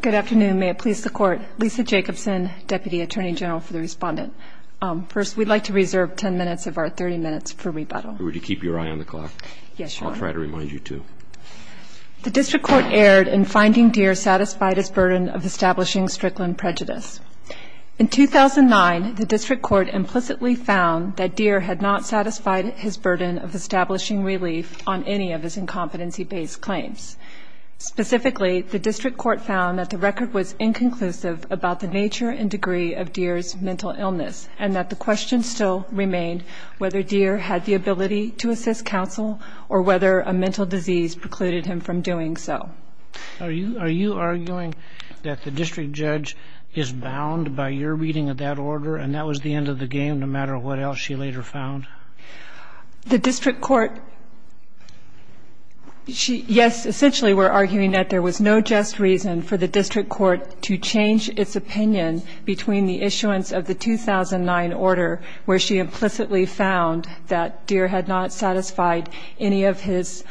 Good afternoon. May it please the Court. Lisa Jacobson, Deputy Attorney General for the Respondent. First, we'd like to reserve 10 minutes of our 30 minutes for rebuttal. Would you keep your eye on the clock? Yes, Your Honor. I'll try to remind you to. The District Court erred in finding Deere satisfied its burden of establishing Strickland prejudice. In 2009, the District Court implicitly found that Deere had not satisfied his burden of establishing relief on any of his incompetency-based claims. Specifically, the District Court found that the record was inconclusive about the nature and degree of Deere's mental illness and that the question still remained whether Deere had the ability to assist counsel or whether a mental disease precluded him from doing so. Are you arguing that the District Judge is bound by your reading of that order and that was the end of the game no matter what else she later found? The District Court, yes, essentially we're arguing that there was no just reason for the District Court to change its opinion between the issuance of the 2009 order where she implicitly found that Deere had not satisfied any of his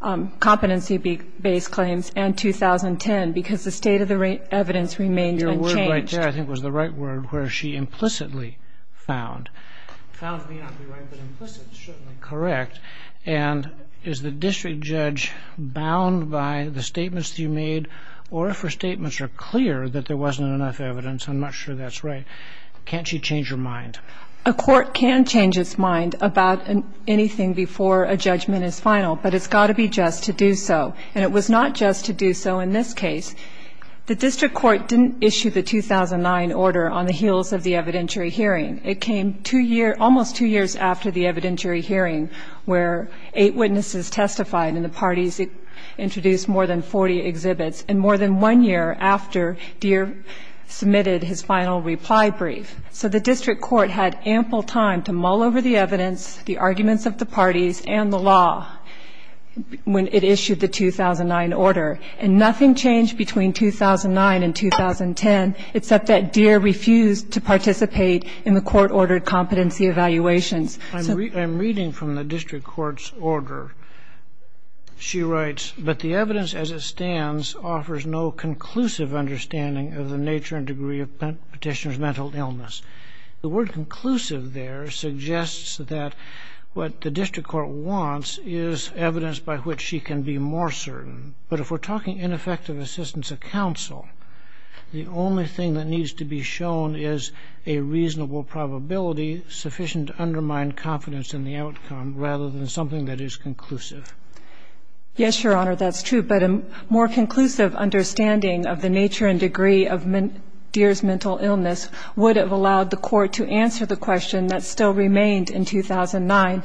competency-based claims and 2010 because the state of the evidence remained unchanged. Your word right there, I think, was the right word, where she implicitly found. Found may not be right, but implicit is certainly correct. And is the District Judge bound by the statements that you made or if her statements are clear that there wasn't enough evidence, I'm not sure that's right, can't she change her mind? A court can change its mind about anything before a judgment is final, but it's got to be just to do so. And it was not just to do so in this case. The District Court didn't issue the 2009 order on the heels of the evidentiary hearing. It came almost two years after the evidentiary hearing where eight witnesses testified and the parties introduced more than 40 exhibits, and more than one year after, Deere submitted his final reply brief. So the District Court had ample time to mull over the evidence, the arguments of the parties, and the law when it issued the 2009 order. And nothing changed between 2009 and 2010 except that Deere refused to participate in the court-ordered competency evaluations. I'm reading from the District Court's order. She writes, But the evidence as it stands offers no conclusive understanding of the nature and degree of petitioner's mental illness. The word conclusive there suggests that what the District Court wants is evidence by which she can be more certain. But if we're talking ineffective assistance of counsel, the only thing that needs to be shown is a reasonable probability sufficient to undermine confidence in the outcome rather than something that is conclusive. Yes, Your Honor, that's true. But a more conclusive understanding of the nature and degree of Deere's mental illness would have allowed the court to answer the question that still remained in 2009,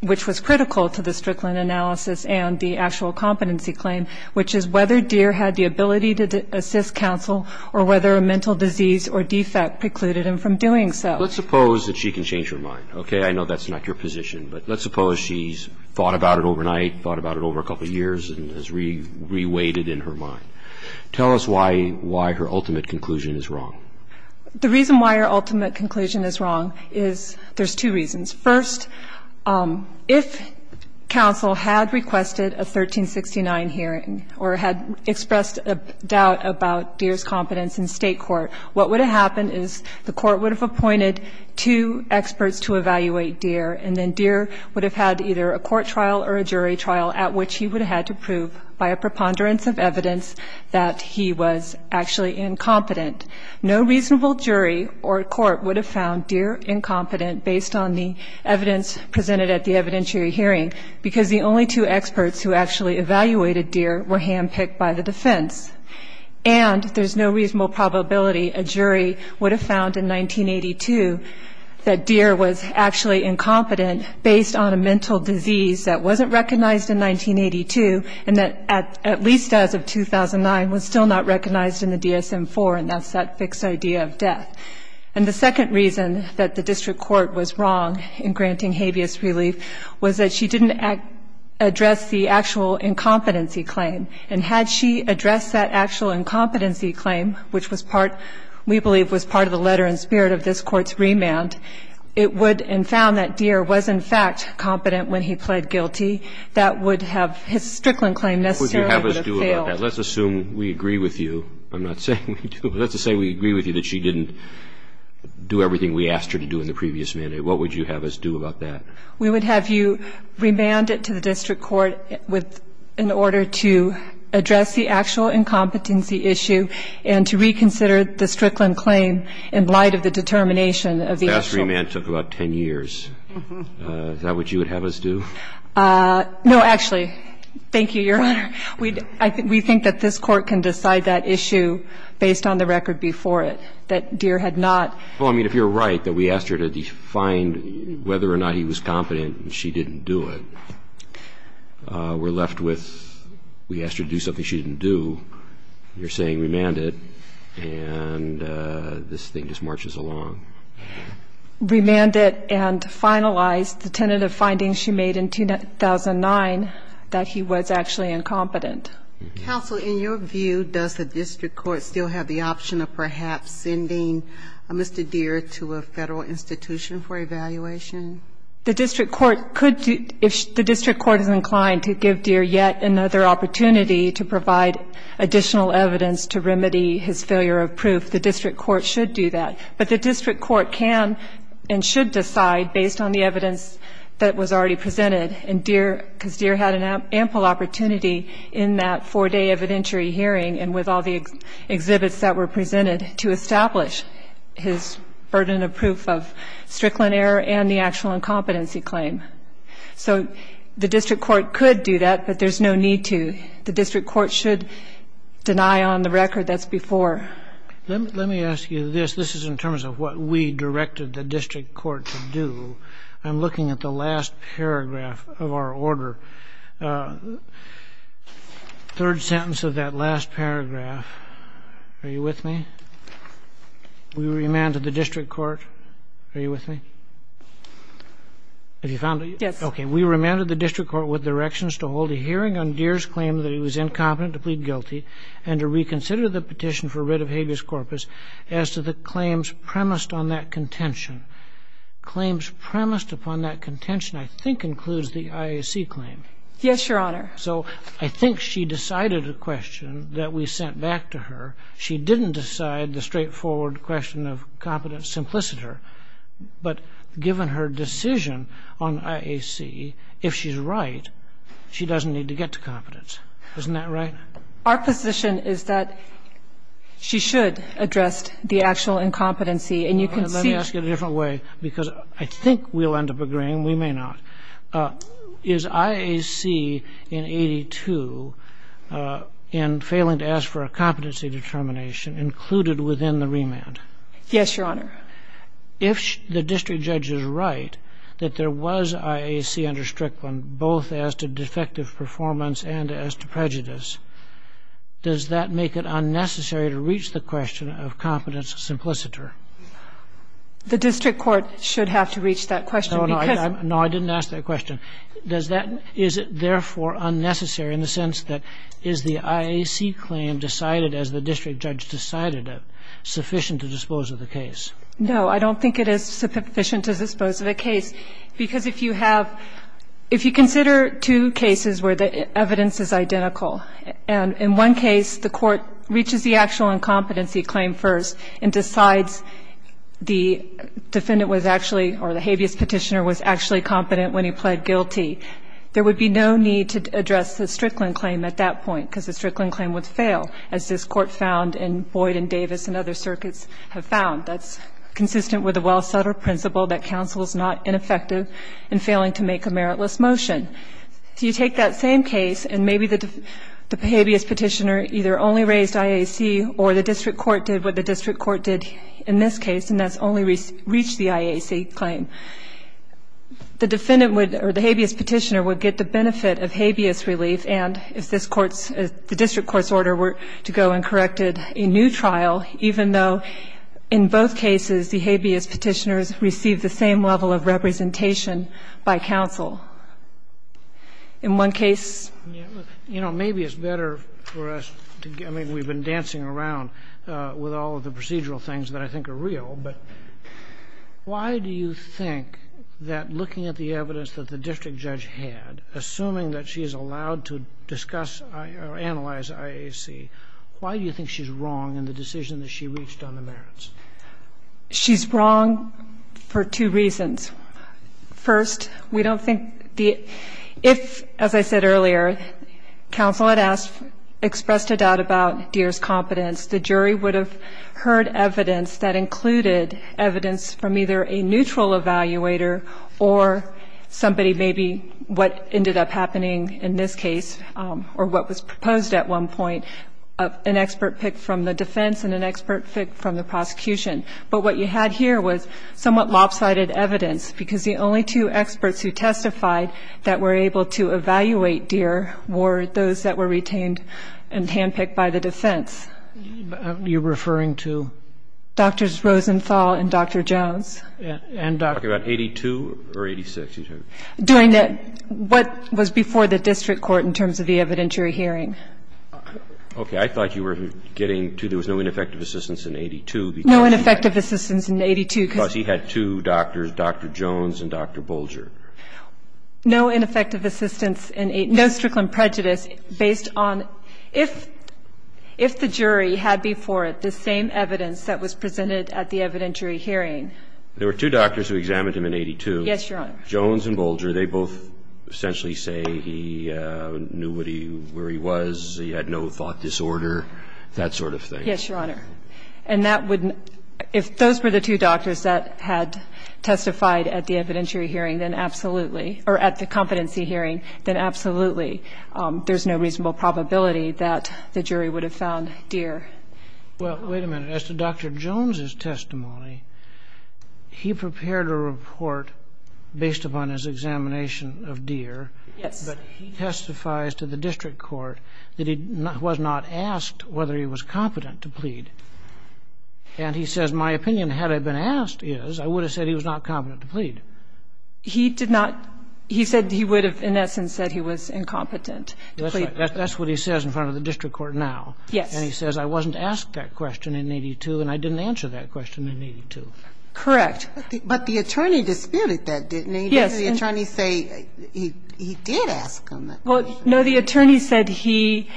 which was critical to the Strickland analysis and the actual competency claim, which is whether Deere had the ability to assist counsel or whether a mental disease or defect precluded him from doing so. Let's suppose that she can change her mind, okay? I know that's not your position. But let's suppose she's thought about it overnight, thought about it over a couple years, and has re-weighted in her mind. Tell us why her ultimate conclusion is wrong. The reason why her ultimate conclusion is wrong is there's two reasons. First, if counsel had requested a 1369 hearing or had expressed a doubt about Deere's competence in State court, what would have happened is the court would have appointed two experts to evaluate Deere, and then Deere would have had either a court trial or a jury trial at which he would have had to prove by a preponderance of evidence that he was actually incompetent. No reasonable jury or court would have found Deere incompetent based on the evidence presented at the evidentiary hearing, because the only two experts who actually evaluated Deere were handpicked by the defense. And there's no reasonable probability a jury would have found in 1982 that Deere was actually incompetent based on a mental disease that wasn't recognized in 1982, and that, at least as of 2009, was still not recognized in the DSM-IV, and that's that fixed idea of death. And the second reason that the district court was wrong in granting habeas relief was that she didn't address the actual incompetency claim. And had she addressed that actual incompetency claim, which we believe was part of the letter and spirit of this Court's remand, it would have found that Deere was, in fact, incompetent when he pled guilty. That would have his Strickland claim necessarily would have failed. Let's assume we agree with you. I'm not saying we do. Let's just say we agree with you that she didn't do everything we asked her to do in the previous mandate. What would you have us do about that? We would have you remand it to the district court in order to address the actual incompetency issue and to reconsider the Strickland claim in light of the determination of the actual. That remand took about 10 years. Is that what you would have us do? No, actually. Thank you, Your Honor. We think that this Court can decide that issue based on the record before it, that Deere had not. Well, I mean, if you're right that we asked her to define whether or not he was competent and she didn't do it, we're left with we asked her to do something she didn't do. You're saying remand it, and this thing just marches along. Remand it and finalize the tentative findings she made in 2009 that he was actually incompetent. Counsel, in your view, does the district court still have the option of perhaps sending Mr. Deere to a Federal institution for evaluation? The district court could, if the district court is inclined to give Deere yet another opportunity to provide additional evidence to remedy his failure of proof, the district court should do that. But the district court can and should decide based on the evidence that was already presented, and Deere, because Deere had an ample opportunity in that four-day evidentiary hearing and with all the exhibits that were presented to establish his burden of proof of Strickland error and the actual incompetency claim. So the district court could do that, but there's no need to. The district court should deny on the record that's before. Let me ask you this. This is in terms of what we directed the district court to do. I'm looking at the last paragraph of our order, third sentence of that last paragraph. Are you with me? We remanded the district court. Are you with me? Have you found it? Yes. Okay. We remanded the district court with directions to hold a hearing on Deere's claim that he was incompetent to plead guilty and to reconsider the petition for writ of habeas corpus as to the claims premised on that contention. Claims premised upon that contention, I think, includes the IAC claim. Yes, Your Honor. So I think she decided a question that we sent back to her. She didn't decide the straightforward question of competence simpliciter. But given her decision on IAC, if she's right, she doesn't need to get to competence. Isn't that right? Our position is that she should address the actual incompetency, and you can see that. All right. Let me ask it a different way, because I think we'll end up agreeing. We may not. Is IAC in 82 and failing to ask for a competency determination included within the remand? Yes, Your Honor. If the district judge is right that there was IAC under Strickland, both as to defective performance and as to prejudice, does that make it unnecessary to reach the question of competence simpliciter? The district court should have to reach that question. No, I didn't ask that question. Is it therefore unnecessary in the sense that is the IAC claim decided as the district judge decided it No, I don't think it is sufficient to dispose of a case. Because if you have – if you consider two cases where the evidence is identical and in one case the court reaches the actual incompetency claim first and decides the defendant was actually – or the habeas petitioner was actually competent when he pled guilty, there would be no need to address the Strickland claim at that point, because the Strickland claim would fail, as this Court found and Boyd and Davis and other circuits have found. That's consistent with the well-settled principle that counsel is not ineffective in failing to make a meritless motion. So you take that same case and maybe the habeas petitioner either only raised IAC or the district court did what the district court did in this case, and that's only reached the IAC claim. The defendant would – or the habeas petitioner would get the benefit of habeas relief and if this Court's – if the district court's order were to go and corrected a new trial, even though in both cases the habeas petitioners received the same level of representation by counsel. In one case – You know, maybe it's better for us to – I mean, we've been dancing around with all of the procedural things that I think are real, but why do you think that looking at the evidence that the district judge had, assuming that she's allowed to discuss or analyze IAC, why do you think she's wrong in the decision that she reached on the merits? She's wrong for two reasons. First, we don't think the – if, as I said earlier, counsel had asked – expressed a doubt about Deere's competence, the jury would have heard evidence that included evidence from either a neutral evaluator or somebody maybe what ended up happening in this case or what was proposed at one point, an expert pick from the defense and an expert pick from the prosecution. But what you had here was somewhat lopsided evidence, because the only two experts who testified that were able to evaluate Deere were those that were retained and handpicked by the defense. You're referring to? Drs. Rosenthal and Dr. Jones. And Dr. – Are you talking about 82 or 86? Doing the – what was before the district court in terms of the evidentiary hearing. Okay. I thought you were getting to there was no ineffective assistance in 82 because – No ineffective assistance in 82 because – Because he had two doctors, Dr. Jones and Dr. Bolger. No ineffective assistance in – no Strickland prejudice based on – if the jury had before it the same evidence that was presented at the evidentiary hearing. There were two doctors who examined him in 82. Yes, Your Honor. Jones and Bolger, they both essentially say he knew where he was, he had no thought disorder, that sort of thing. Yes, Your Honor. And that would – if those were the two doctors that had testified at the evidentiary hearing, then absolutely – or at the competency hearing, then absolutely there's no reasonable probability that the jury would have found Deere. Well, wait a minute. As to Dr. Jones' testimony, he prepared a report based upon his examination of Deere. Yes. But he testifies to the district court that he was not asked whether he was competent to plead. And he says, my opinion had I been asked is I would have said he was not competent to plead. He did not – he said he would have in essence said he was incompetent to plead. That's what he says in front of the district court now. Yes. And he says, I wasn't asked that question in 82 and I didn't answer that question in 82. Correct. But the attorney disputed that, didn't he? Yes. Didn't the attorney say he did ask him that question? Well, no, the attorney said he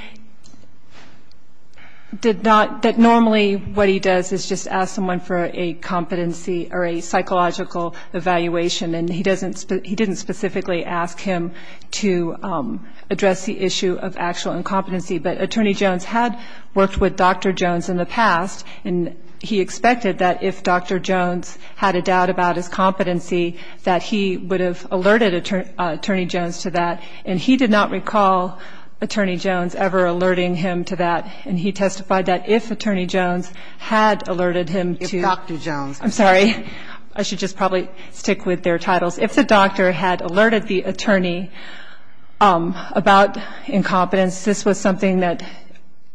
did not – that normally what he does is just ask someone for a competency or a psychological evaluation. And he doesn't – he didn't specifically ask him to address the issue of actual incompetency. But Attorney Jones had worked with Dr. Jones in the past and he expected that if Dr. Jones had a doubt about his competency that he would have alerted Attorney Jones to that. And he did not recall Attorney Jones ever alerting him to that. And he testified that if Attorney Jones had alerted him to – If Dr. Jones – I'm sorry. I should just probably stick with their titles. If the doctor had alerted the attorney about incompetence, this was something that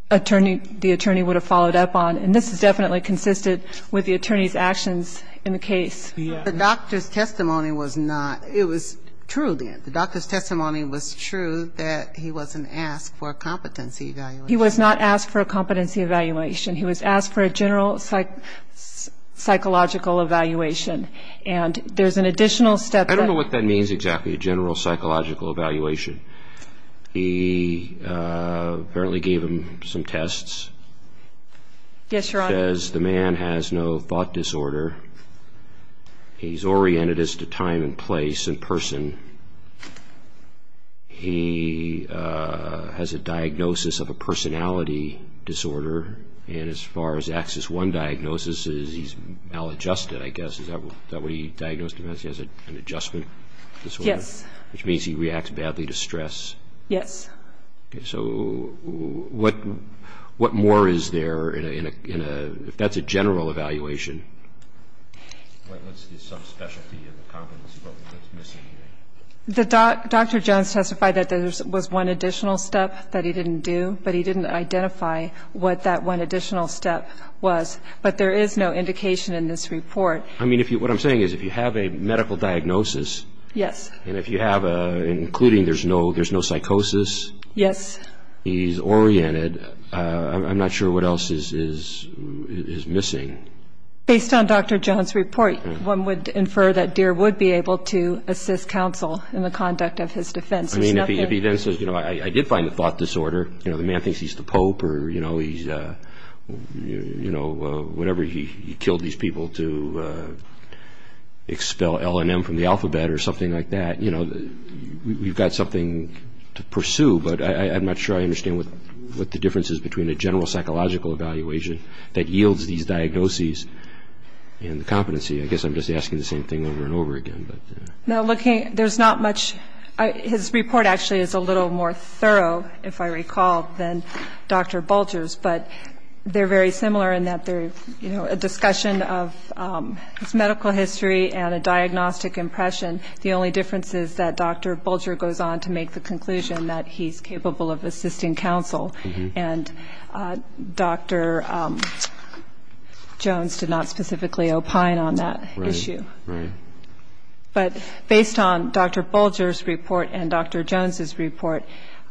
attorney – the attorney would have followed up on. And this has definitely consisted with the attorney's actions in the case. Yes. The doctor's testimony was not – it was true then. The doctor's testimony was true that he wasn't asked for a competency evaluation. He was not asked for a competency evaluation. He was asked for a general psychological evaluation. And there's an additional step that – I don't know what that means exactly, a general psychological evaluation. He apparently gave him some tests. Yes, Your Honor. Says the man has no thought disorder. He's oriented as to time and place and person. He has a diagnosis of a personality disorder. And as far as Axis I diagnosis is, he's maladjusted, I guess. Is that what he diagnosed him as? He has an adjustment disorder? Yes. Which means he reacts badly to stress. Yes. So what more is there in a – if that's a general evaluation. What's his subspecialty and the competency? What's missing here? Dr. Jones testified that there was one additional step that he didn't do, but he didn't identify what that one additional step was. But there is no indication in this report. I mean, what I'm saying is if you have a medical diagnosis. Yes. And if you have a – including there's no psychosis. Yes. He's oriented. I'm not sure what else is missing. Based on Dr. Jones' report, one would infer that Deere would be able to assist counsel in the conduct of his defense. I mean, if he then says, you know, I did find the thought disorder. You know, the man thinks he's the pope or, you know, he's, you know, whenever he killed these people to expel L&M from the alphabet or something like that. You know, we've got something to pursue, but I'm not sure I understand what the difference is between a general psychological evaluation that yields these diagnoses and the competency. I guess I'm just asking the same thing over and over again. There's not much – his report actually is a little more thorough, if I recall, than Dr. Bulger's, but they're very similar in that they're, you know, a discussion of his medical history and a diagnostic impression. The only difference is that Dr. Bulger goes on to make the conclusion that he's capable of assisting counsel. And Dr. Jones did not specifically opine on that issue. Right, right. But based on Dr. Bulger's report and Dr. Jones's report,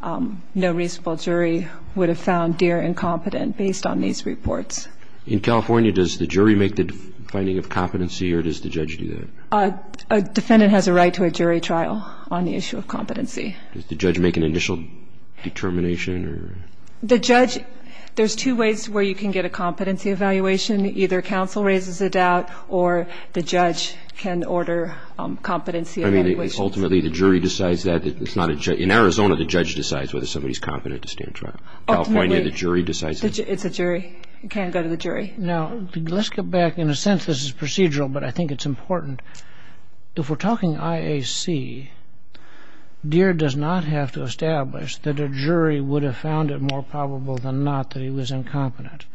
no reasonable jury would have found Deere incompetent based on these reports. In California, does the jury make the finding of competency or does the judge do that? A defendant has a right to a jury trial on the issue of competency. Does the judge make an initial determination? The judge – there's two ways where you can get a competency evaluation. Either counsel raises a doubt or the judge can order competency evaluations. Ultimately, the jury decides that. In Arizona, the judge decides whether somebody's competent to stand trial. Ultimately, it's a jury. It can go to the jury. Now, let's get back. In a sense, this is procedural, but I think it's important. If we're talking IAC, Deere does not have to establish that a jury would have found it more probable than not that he was incompetent.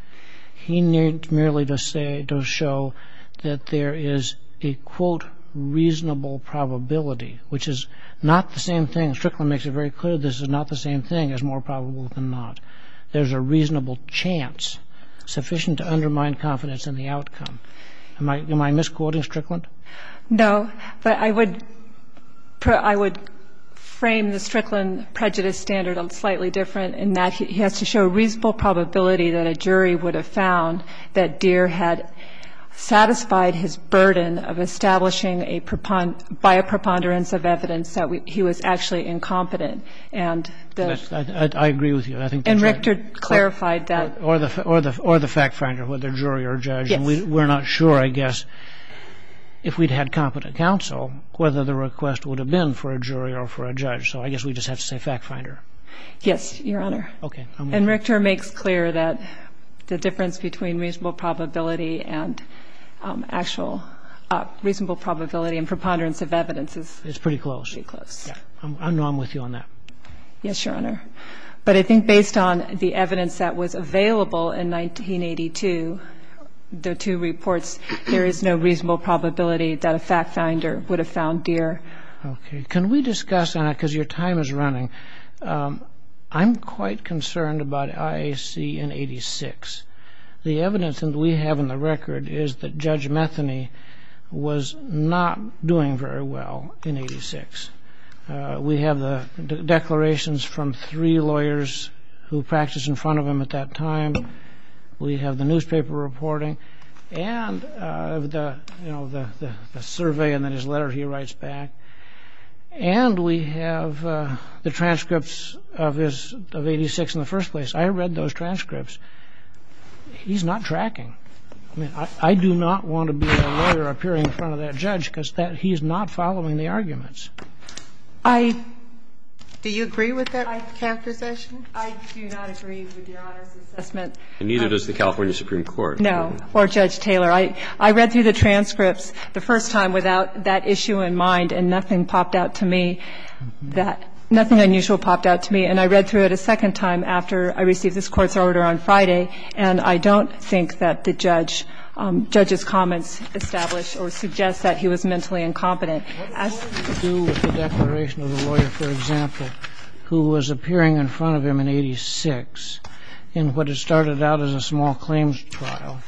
He needs merely to show that there is a, quote, reasonable probability, which is not the same thing. Strickland makes it very clear this is not the same thing as more probable than not. There's a reasonable chance sufficient to undermine confidence in the outcome. Am I misquoting Strickland? No, but I would frame the Strickland prejudice standard slightly different in that he has to show reasonable probability that a jury would have found that Deere had satisfied his burden of establishing by a preponderance of evidence that he was actually incompetent. I agree with you. And Richter clarified that. Or the fact finder, whether jury or judge. We're not sure, I guess, if we'd had competent counsel, whether the request would have been for a jury or for a judge. So I guess we just have to say fact finder. Yes, Your Honor. Okay. And Richter makes clear that the difference between reasonable probability and actual reasonable probability and preponderance of evidence is pretty close. I'm with you on that. Yes, Your Honor. But I think based on the evidence that was available in 1982, the two reports, there is no reasonable probability that a fact finder would have found Deere. Okay. Can we discuss on it, because your time is running, I'm quite concerned about IAC in 86. The evidence that we have in the record is that Judge Metheny was not doing very well in 86. We have the declarations from three lawyers who practiced in front of him at that time. We have the newspaper reporting and the survey and then his letter he writes back. And we have the transcripts of 86 in the first place. I read those transcripts. He's not tracking. I do not want to be a lawyer appearing in front of that judge because he's not following the arguments. Do you agree with that characterization? I do not agree with Your Honor's assessment. And neither does the California Supreme Court. No. Or Judge Taylor. I read through the transcripts the first time without that issue in mind, and nothing popped out to me. Nothing unusual popped out to me. And I read through it a second time after I received this Court's order on Friday, and I don't think that the judge's comments establish or suggest that he was mentally incompetent. What does this have to do with the declaration of the lawyer, for example, who was appearing in front of him in 86 in what had started out as a small claims trial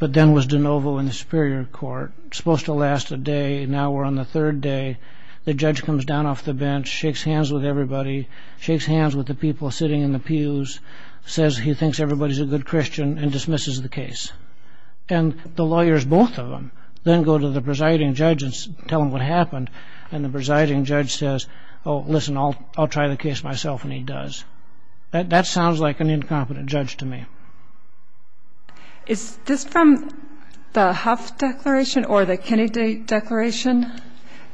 but then was de novo in the Superior Court, supposed to last a day, and now we're on the third day. The judge comes down off the bench, shakes hands with everybody, shakes hands with the people sitting in the pews, says he thinks everybody's a good Christian, and dismisses the case. And the lawyers, both of them, then go to the presiding judge and tell him what happened, and the presiding judge says, oh, listen, I'll try the case myself, and he does. That sounds like an incompetent judge to me. Is this from the Huff Declaration or the Kennedy Declaration?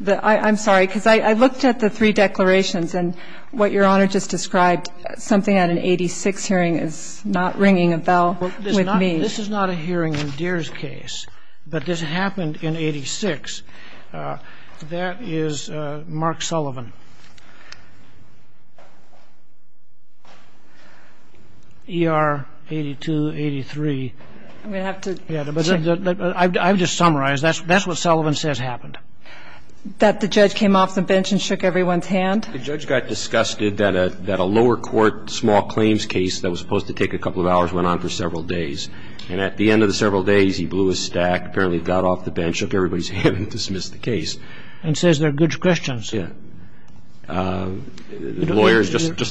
I'm sorry, because I looked at the three declarations and what Your Honor just described, something at an 86 hearing is not ringing a bell with me. This is not a hearing in Deere's case, but this happened in 86. That is Mark Sullivan, ER 8283. I'm going to have to check. I've just summarized. That's what Sullivan says happened. That the judge came off the bench and shook everyone's hand? The judge got disgusted that a lower court small claims case that was supposed to take a couple of hours went on for several days. And at the end of the several days, he blew his stack, apparently got off the bench, shook everybody's hand, and dismissed the case. And says they're good Christians. Just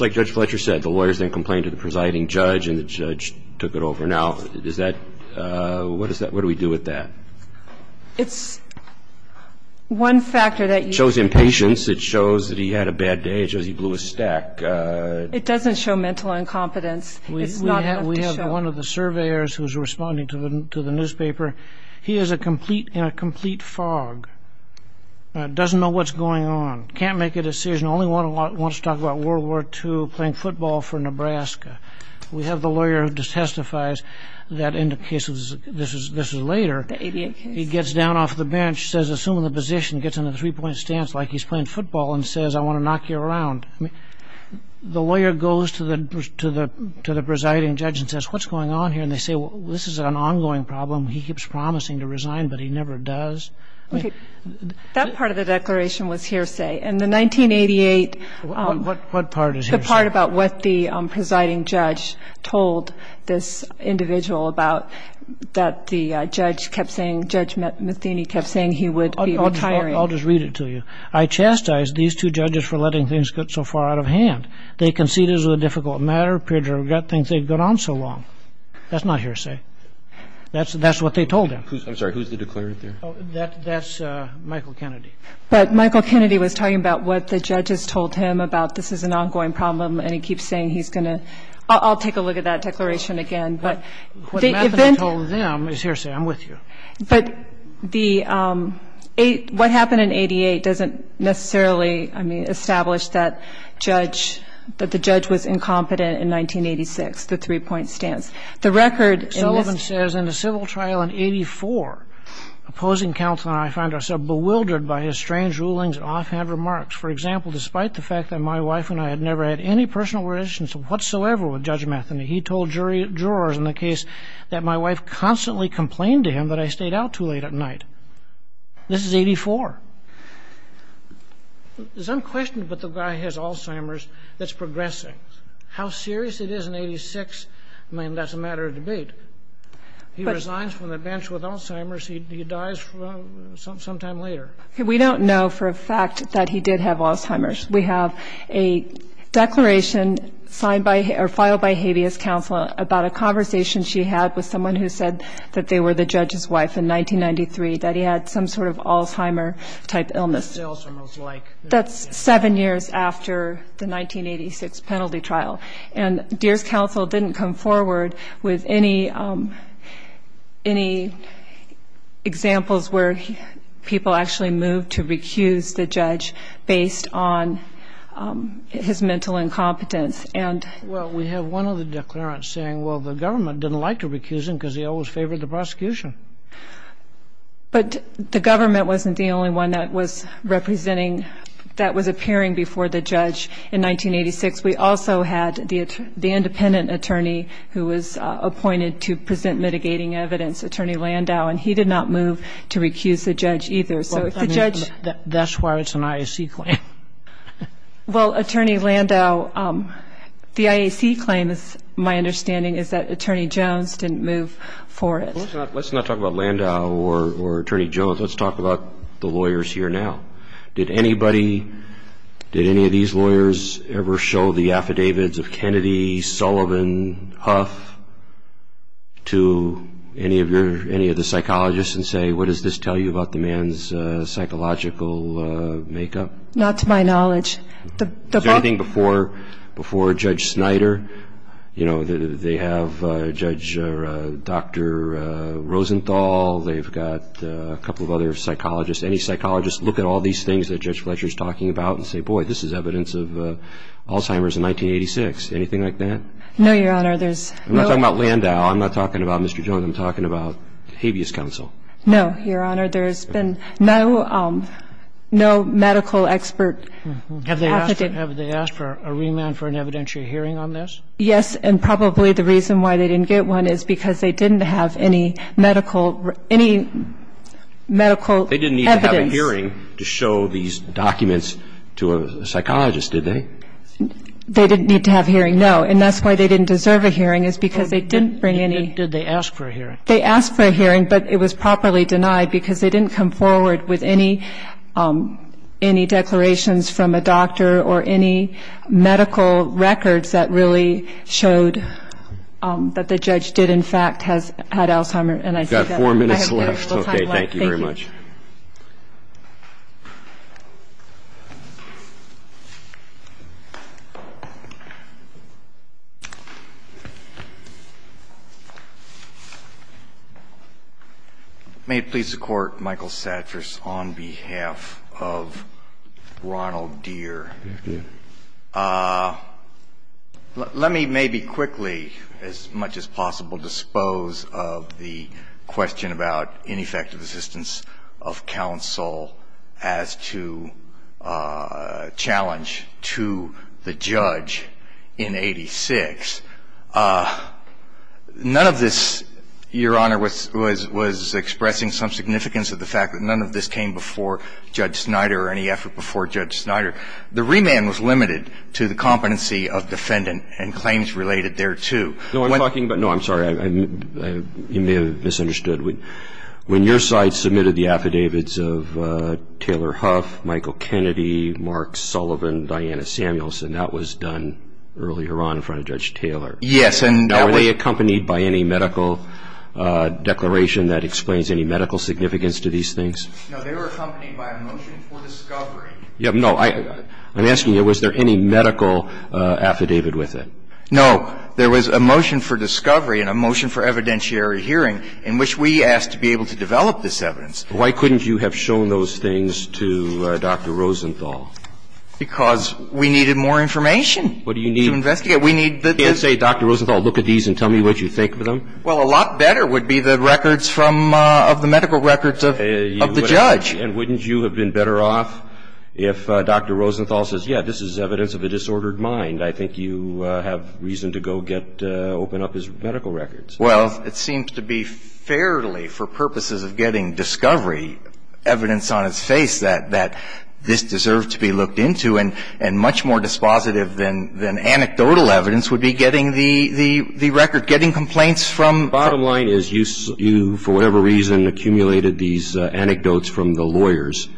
like Judge Fletcher said, the lawyers then complained to the presiding judge, and the judge took it over. Now, what do we do with that? It shows impatience. It shows that he had a bad day. It shows he blew his stack. It doesn't show mental incompetence. It's not enough to show. We have one of the surveyors who's responding to the newspaper. He is in a complete fog, doesn't know what's going on, can't make a decision, only wants to talk about World War II, playing football for Nebraska. We have the lawyer who testifies that in the cases, this is later, he gets down off the bench, says assume the position, gets in a three-point stance like he's playing football and says, I want to knock you around. The lawyer goes to the presiding judge and says, what's going on here? And they say, well, this is an ongoing problem. He keeps promising to resign, but he never does. Okay. That part of the declaration was hearsay. And the 1988 part about what the presiding judge told this individual about, that the judge kept saying, Judge Matheny kept saying he would be retiring. I'll just read it to you. I chastise these two judges for letting things get so far out of hand. They conceded it was a difficult matter, appeared to regret things they'd gone on so long. That's not hearsay. That's what they told him. I'm sorry, who's the declarer there? That's Michael Kennedy. But Michael Kennedy was talking about what the judges told him about, this is an ongoing problem, and he keeps saying he's going to. I'll take a look at that declaration again. What Matheny told them is hearsay. I'm with you. But what happened in 88 doesn't necessarily establish that the judge was incompetent in 1986, the three-point stance. Sullivan says, In a civil trial in 84, opposing counsel and I found ourselves bewildered by his strange rulings and offhand remarks. For example, despite the fact that my wife and I had never had any personal relations whatsoever with Judge Matheny, he told jurors in the case that my wife constantly complained to him that I stayed out too late at night. This is 84. There's some question about the guy who has Alzheimer's that's progressing. How serious it is in 86, I mean, that's a matter of debate. He resigns from the bench with Alzheimer's. He dies sometime later. We don't know for a fact that he did have Alzheimer's. We have a declaration filed by Habeas Counsel about a conversation she had with someone who said that they were the judge's wife in 1993, that he had some sort of Alzheimer-type illness. That's seven years after the 1986 penalty trial. And Deere's counsel didn't come forward with any examples where people actually moved to recuse the judge based on his mental incompetence. Well, we have one other declarant saying, well, the government didn't like to recuse him because he always favored the prosecution. But the government wasn't the only one that was representing, that was appearing before the judge in 1986. We also had the independent attorney who was appointed to present mitigating evidence, Attorney Landau, and he did not move to recuse the judge either. That's why it's an IAC claim. Well, Attorney Landau, the IAC claim, my understanding is that Attorney Jones didn't move for it. Let's not talk about Landau or Attorney Jones. Let's talk about the lawyers here now. Did any of these lawyers ever show the affidavits of Kennedy, Sullivan, Huff to any of the psychologists and say, what does this tell you about the man's psychological makeup? Not to my knowledge. Is there anything before Judge Snyder? You know, they have Judge Dr. Rosenthal. They've got a couple of other psychologists. Any psychologists look at all these things that Judge Fletcher is talking about and say, boy, this is evidence of Alzheimer's in 1986, anything like that? No, Your Honor. I'm not talking about Landau. I'm not talking about Mr. Jones. I'm talking about habeas counsel. No, Your Honor. There's been no medical expert affidavit. Have they asked for a remand for an evidentiary hearing on this? Yes. And probably the reason why they didn't get one is because they didn't have any medical evidence. They didn't need to have a hearing to show these documents to a psychologist, did they? They didn't need to have a hearing, no. And that's why they didn't deserve a hearing is because they didn't bring any. Did they ask for a hearing? They asked for a hearing, but it was properly denied because they didn't come forward with any declarations from a doctor or any medical records that really showed that the judge did, in fact, have Alzheimer's. And I think that I have very little time left. We've got four minutes left. Okay, thank you very much. Thank you. May it please the Court, Michael Satras on behalf of Ronald Deere. Yes, Your Honor. Let me maybe quickly, as much as possible, dispose of the question about ineffective assistance of counsel as to challenge to the judge in 86. None of this, Your Honor, was expressing some significance of the fact that none of this came before Judge Snyder or any effort before Judge Snyder. The remand was limited to the competency of defendant and claims related thereto. No, I'm talking about no, I'm sorry. You may have misunderstood. When your side submitted the affidavits of Taylor Huff, Michael Kennedy, Mark Sullivan, Diana Samuelson, that was done earlier on in front of Judge Taylor. Yes. Now, were they accompanied by any medical declaration that explains any medical significance to these things? No, they were accompanied by a motion for discovery. No, I'm asking you, was there any medical affidavit with it? No. There was a motion for discovery and a motion for evidentiary hearing in which we asked to be able to develop this evidence. Why couldn't you have shown those things to Dr. Rosenthal? Because we needed more information to investigate. What do you need? We need the evidence. You can't say, Dr. Rosenthal, look at these and tell me what you think of them. Well, a lot better would be the records from the medical records of the judge. And wouldn't you have been better off if Dr. Rosenthal says, yeah, this is evidence of a disordered mind. I think you have reason to go get open up his medical records. Well, it seems to be fairly, for purposes of getting discovery, evidence on its face that this deserved to be looked into and much more dispositive than anecdotal evidence would be getting the record, getting complaints from. The bottom line is you, for whatever reason, accumulated these anecdotes from the lawyers,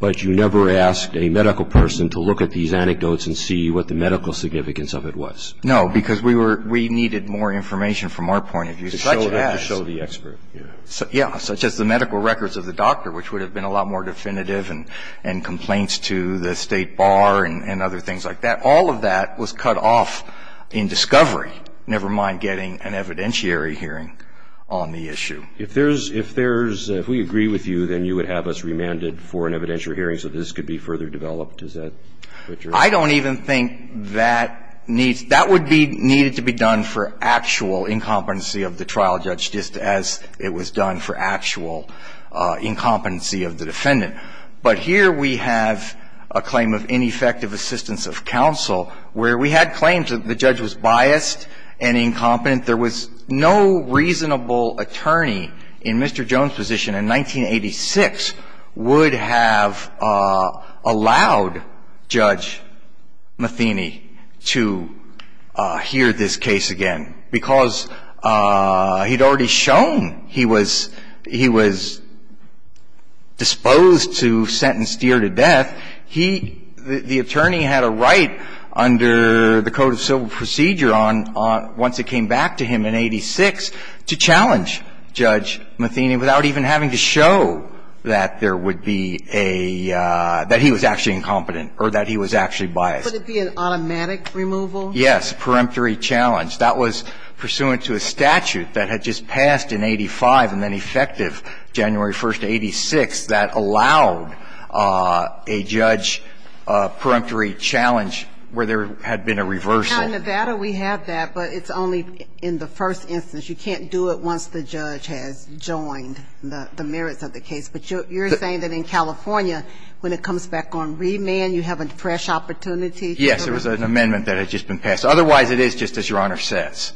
but you never asked a medical person to look at these anecdotes and see what the medical significance of it was. No, because we needed more information from our point of view, such as. To show the expert. Yeah, such as the medical records of the doctor, which would have been a lot more definitive and complaints to the state bar and other things like that. All of that was cut off in discovery, never mind getting an evidentiary hearing on the issue. If there's, if we agree with you, then you would have us remanded for an evidentiary hearing so this could be further developed. Is that what you're. I don't even think that needs, that would be needed to be done for actual incompetency of the trial judge, just as it was done for actual incompetency of the defendant. But here we have a claim of ineffective assistance of counsel where we had claims that the judge was biased and incompetent. There was no reasonable attorney in Mr. Jones' position in 1986 would have allowed Judge Matheny to hear this case again because he had already shown he was, he was disposed to sentence Deere to death. He, the attorney had a right under the Code of Civil Procedure on, once it came back to him in 86, to challenge Judge Matheny without even having to show that there would be a, that he was actually incompetent or that he was actually biased. Would it be an automatic removal? Yes, a peremptory challenge. That was pursuant to a statute that had just passed in 85 and then effective January 1st, 86, that allowed a judge a peremptory challenge where there had been a reversal. Now in Nevada we have that, but it's only in the first instance. You can't do it once the judge has joined the merits of the case. But you're saying that in California, when it comes back on remand, you have a fresh opportunity? Yes. There was an amendment that had just been passed. Otherwise, it is just as Your Honor says.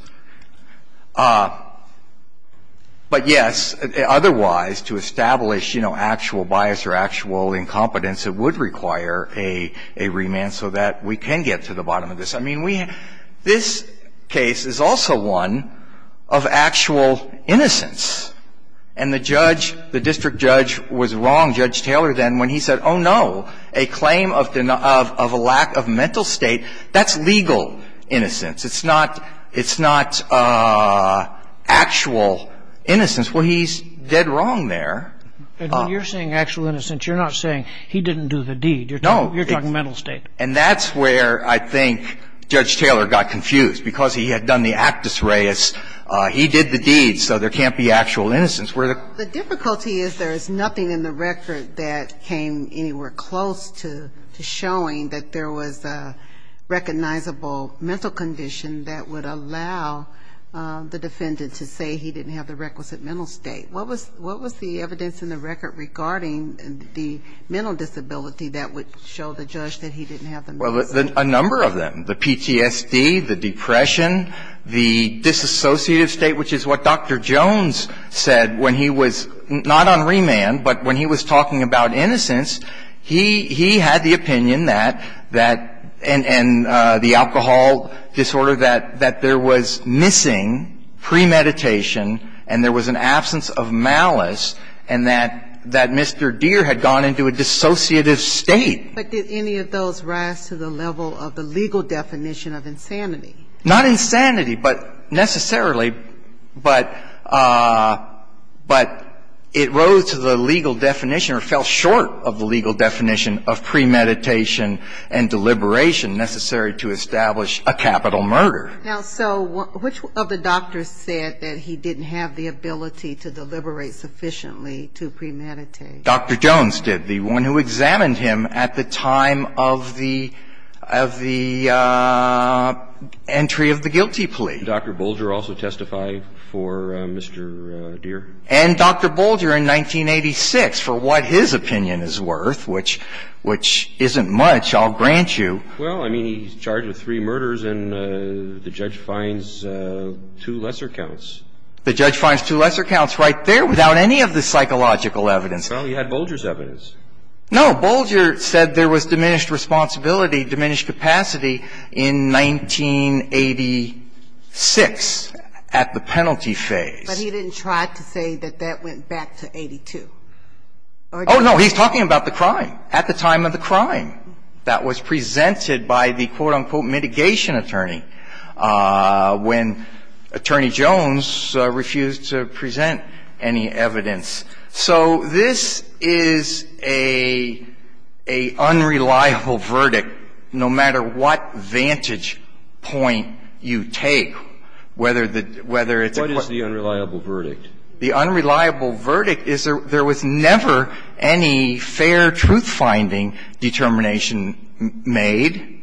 But, yes, otherwise, to establish, you know, actual bias or actual incompetence, it would require a remand so that we can get to the bottom of this. I mean, we, this case is also one of actual innocence. And the judge, the district judge was wrong, Judge Taylor, then when he said, oh, no, a claim of a lack of mental state, that's legal innocence. It's not actual innocence. Well, he's dead wrong there. And when you're saying actual innocence, you're not saying he didn't do the deed. No. You're talking mental state. And that's where I think Judge Taylor got confused, because he had done the actus praeus. He did the deed, so there can't be actual innocence. The difficulty is there is nothing in the record that came anywhere close to showing that there was a recognizable mental condition that would allow the defendant to say he didn't have the requisite mental state. What was the evidence in the record regarding the mental disability that would show the judge that he didn't have the mental state? Well, a number of them. The PTSD, the depression, the disassociative state, which is what Dr. Jones said when he was not on remand, but when he was talking about innocence, he had the opinion that, and the alcohol disorder, that there was missing premeditation and there was an absence of malice, and that Mr. Deere had gone into a dissociative state. But did any of those rise to the level of the legal definition of insanity? Not insanity, but necessarily, but it rose to the legal definition or fell short of the legal definition of premeditation and deliberation necessary to establish a capital murder. Now, so which of the doctors said that he didn't have the ability to deliberate sufficiently to premeditate? Dr. Jones did. The one who examined him at the time of the entry of the guilty plea. Did Dr. Bolger also testify for Mr. Deere? And Dr. Bolger in 1986, for what his opinion is worth, which isn't much, I'll grant you. Well, I mean, he's charged with three murders, and the judge finds two lesser counts. The judge finds two lesser counts right there without any of the psychological evidence. Well, you had Bolger's evidence. No. Bolger said there was diminished responsibility, diminished capacity in 1986 at the penalty phase. But he didn't try to say that that went back to 82. Oh, no. He's talking about the crime, at the time of the crime that was presented by the quote, unquote, mitigation attorney when Attorney Jones refused to present any evidence. So this is a unreliable verdict, no matter what vantage point you take, whether the – whether it's a quote. What is the unreliable verdict? The unreliable verdict is there was never any fair truth-finding determination made,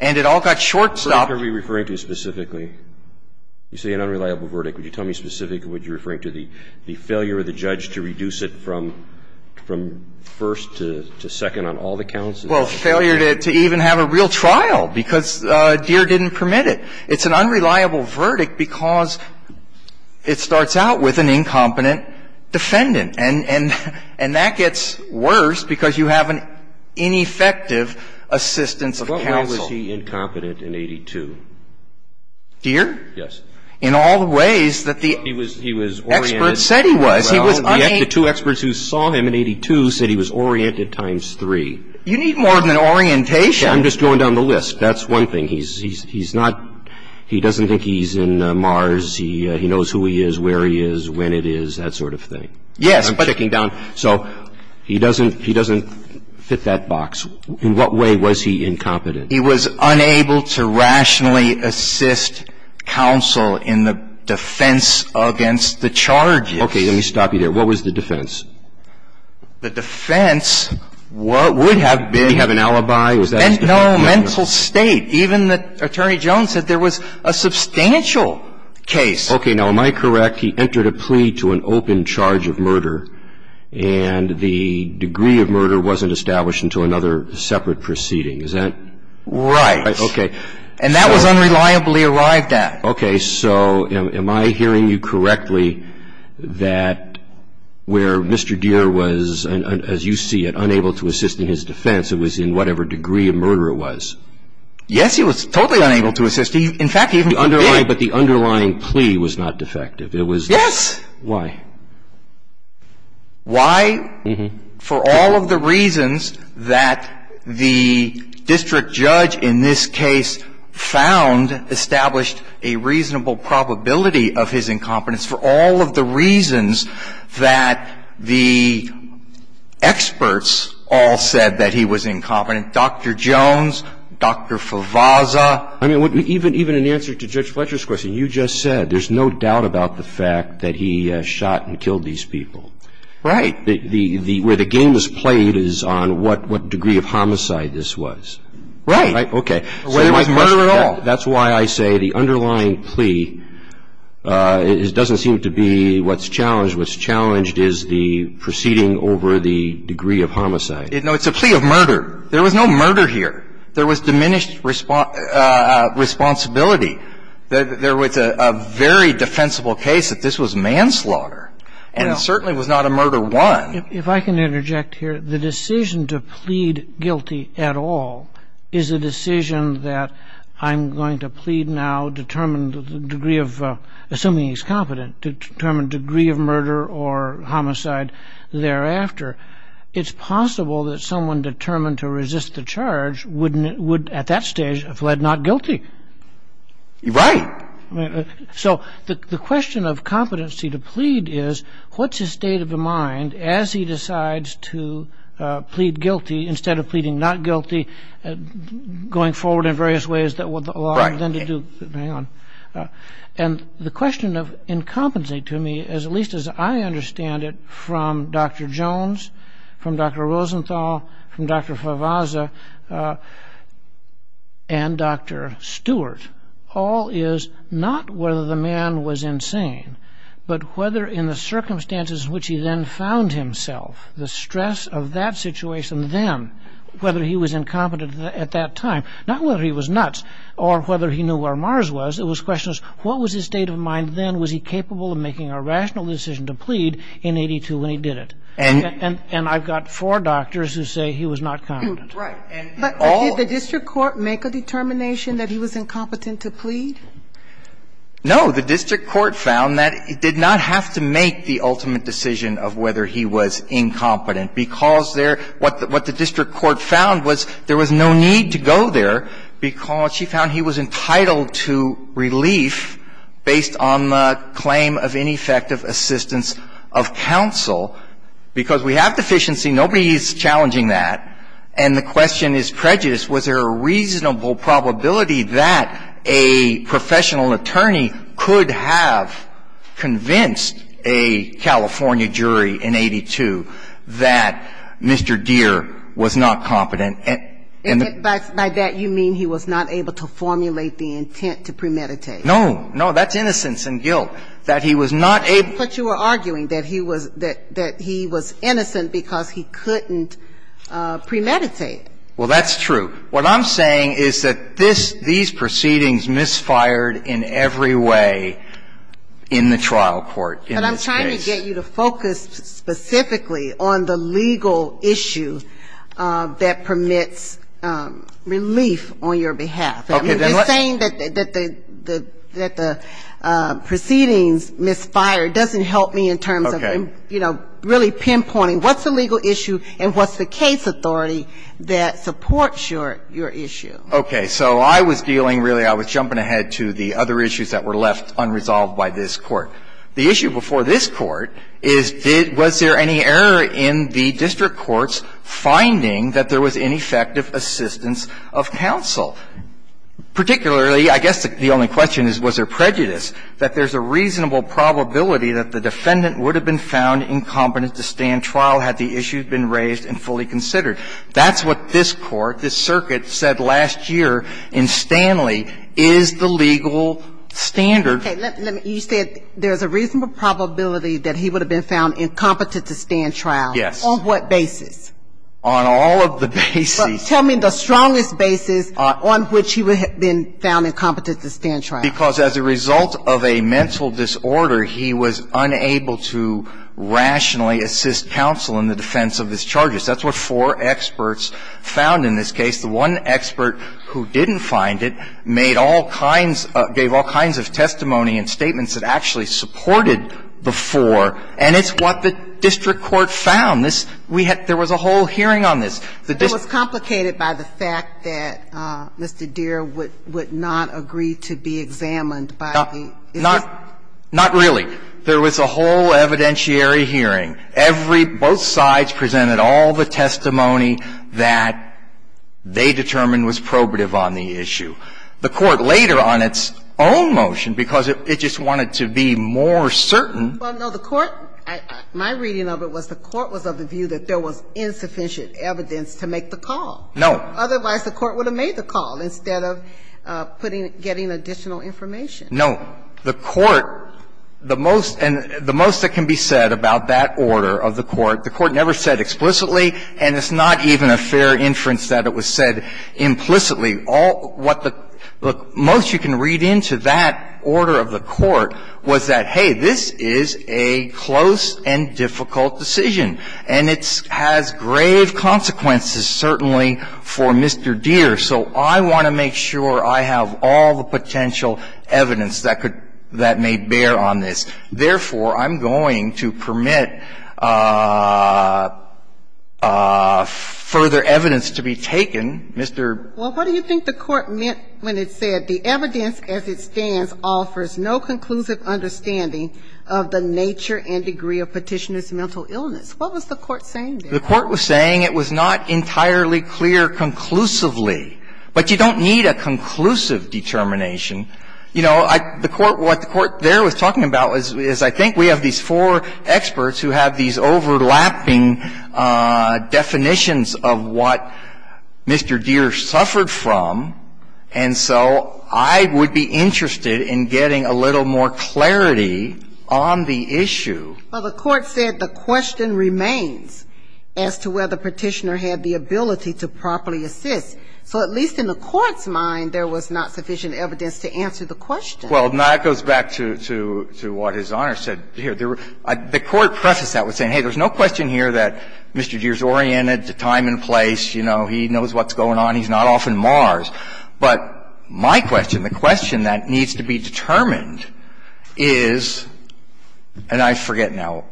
and it all got shortstopped. What are we referring to specifically? You say an unreliable verdict. Would you tell me specifically what you're referring to, the failure of the judge to reduce it from first to second on all the counts? Well, failure to even have a real trial, because Deere didn't permit it. It's an unreliable verdict because it starts out with an incompetent defendant. And that gets worse because you have an ineffective assistance of counsel. But why was he incompetent in 82? Deere? Yes. In all the ways that the experts said he was. Well, the two experts who saw him in 82 said he was oriented times three. You need more than an orientation. I'm just going down the list. That's one thing. He's not – he doesn't think he's in Mars. He knows who he is, where he is, when it is, that sort of thing. Yes, but – I'm checking down. So he doesn't fit that box. In what way was he incompetent? He was unable to rationally assist counsel in the defense against the charges. Okay. Let me stop you there. What was the defense? The defense would have been – Did he have an alibi? Was that his defense? No, mental state. Even Attorney Jones said there was a substantial case. Okay. Now, am I correct? He entered a plea to an open charge of murder, and the degree of murder wasn't established until another separate proceeding. Is that – Right. Okay. And that was unreliably arrived at. Okay. So am I hearing you correctly that where Mr. Deere was, as you see it, unable to assist in his defense, it was in whatever degree of murder it was? Yes, he was totally unable to assist. In fact, even – But the underlying plea was not defective. It was – Yes. Why? Why? For all of the reasons that the district judge in this case found established a reasonable probability of his incompetence, for all of the reasons that the experts all said that he was incompetent, Dr. Jones, Dr. Favazza. I mean, even in answer to Judge Fletcher's question, you just said there's no doubt about the fact that he shot and killed these people. Right. Where the game is played is on what degree of homicide this was. Right. Okay. There was murder at all. That's why I say the underlying plea doesn't seem to be what's challenged. What's challenged is the proceeding over the degree of homicide. No, it's a plea of murder. There was no murder here. There was diminished responsibility. There was a very defensible case that this was manslaughter, and it certainly was not a murder one. If I can interject here, the decision to plead guilty at all is a decision that I'm going to plead now, determine the degree of – assuming he's competent – to determine degree of murder or homicide thereafter. It's possible that someone determined to resist the charge would, at that stage, have fled not guilty. Right. So the question of competency to plead is what's his state of mind as he decides to plead guilty instead of pleading not guilty going forward in various ways that would allow him then to do – hang on. And the question of incompetency to me, at least as I understand it, from Dr. Jones, from Dr. Rosenthal, from Dr. Favazza, and Dr. Stewart, all is not whether the man was insane, but whether in the circumstances in which he then found himself, the stress of that situation then, whether he was incompetent at that time. Not whether he was nuts or whether he knew where Mars was. It was questions, what was his state of mind then? Was he capable of making a rational decision to plead in 82 when he did it? And I've got four doctors who say he was not competent. Right. But did the district court make a determination that he was incompetent to plead? No. The district court found that it did not have to make the ultimate decision of whether he was incompetent because there – what the district court found was there was no need to go there because she found he was entitled to relief based on the claim of ineffective assistance of counsel. Because we have deficiency. Nobody is challenging that. And the question is prejudice. Was there a reasonable probability that a professional attorney could have convinced a California jury in 82 that Mr. Deere was not competent? And by that you mean he was not able to formulate the intent to premeditate. No. No, that's innocence and guilt, that he was not able to. But you are arguing that he was – that he was innocent because he couldn't premeditate. Well, that's true. What I'm saying is that this – these proceedings misfired in every way in the trial court in this case. But I'm trying to get you to focus specifically on the legal issue that permits relief on your behalf. They're saying that the proceedings misfired doesn't help me in terms of, you know, really pinpointing what's the legal issue and what's the case authority that supports your issue. Okay. So I was dealing really – I was jumping ahead to the other issues that were left unresolved by this Court. The issue before this Court is did – was there any error in the district courts finding that there was ineffective assistance of counsel? Particularly, I guess the only question is was there prejudice, that there's a reasonable probability that the defendant would have been found incompetent to stand trial had the issue been raised and fully considered. That's what this Court, this circuit, said last year in Stanley is the legal standard. Okay. You said there's a reasonable probability that he would have been found incompetent to stand trial. Yes. On what basis? On all of the basis. Tell me the strongest basis on which he would have been found incompetent to stand trial. Because as a result of a mental disorder, he was unable to rationally assist counsel in the defense of his charges. That's what four experts found in this case. The one expert who didn't find it made all kinds – gave all kinds of testimony and statements that actually supported the four, and it's what the district court found. This – we had – there was a whole hearing on this. It was complicated by the fact that Mr. Deere would – would not agree to be examined by the district. Not – not really. There was a whole evidentiary hearing. Every – both sides presented all the testimony that they determined was probative on the issue. The court later on its own motion, because it – it just wanted to be more certain. Well, no. The court – my reading of it was the court was of the view that there was insufficient evidence to make the call. No. Otherwise, the court would have made the call instead of putting – getting additional information. No. The court – the most – and the most that can be said about that order of the court, the court never said explicitly, and it's not even a fair inference that it was said implicitly. All what the – look, most you can read into that order of the court was that, hey, this is a close and difficult decision, and it's – has grave consequences certainly for Mr. Deere. So I want to make sure I have all the potential evidence that could – that may bear on this. Therefore, I'm going to permit further evidence to be taken. Mr.… Well, what do you think the court meant when it said the evidence as it stands offers no conclusive understanding of the nature and degree of Petitioner's mental illness? What was the court saying there? The court was saying it was not entirely clear conclusively. But you don't need a conclusive determination. You know, I – the court – what the court there was talking about is I think we have these four experts who have these overlapping definitions of what Mr. Deere suffered from, and so I would be interested in getting a little more clarity on the issue. Well, the court said the question remains as to whether Petitioner had the ability to properly assist. So at least in the court's mind, there was not sufficient evidence to answer the question. Well, that goes back to what His Honor said here. The court prefaced that with saying, hey, there's no question here that Mr. Deere is oriented to time and place. You know, he knows what's going on. He's not off on Mars. But my question, the question that needs to be determined is – and I forget now,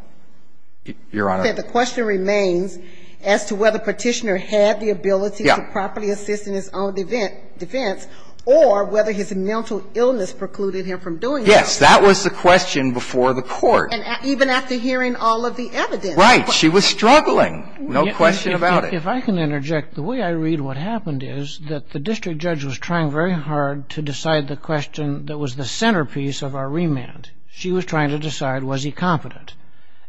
Your Honor. I said the question remains as to whether Petitioner had the ability to properly assist in his own defense or whether his mental illness precluded him from doing so. Yes. That was the question before the court. And even after hearing all of the evidence. Right. She was struggling, no question about it. If I can interject, the way I read what happened is that the district judge was trying very hard to decide the question that was the centerpiece of our remand. She was trying to decide was he competent.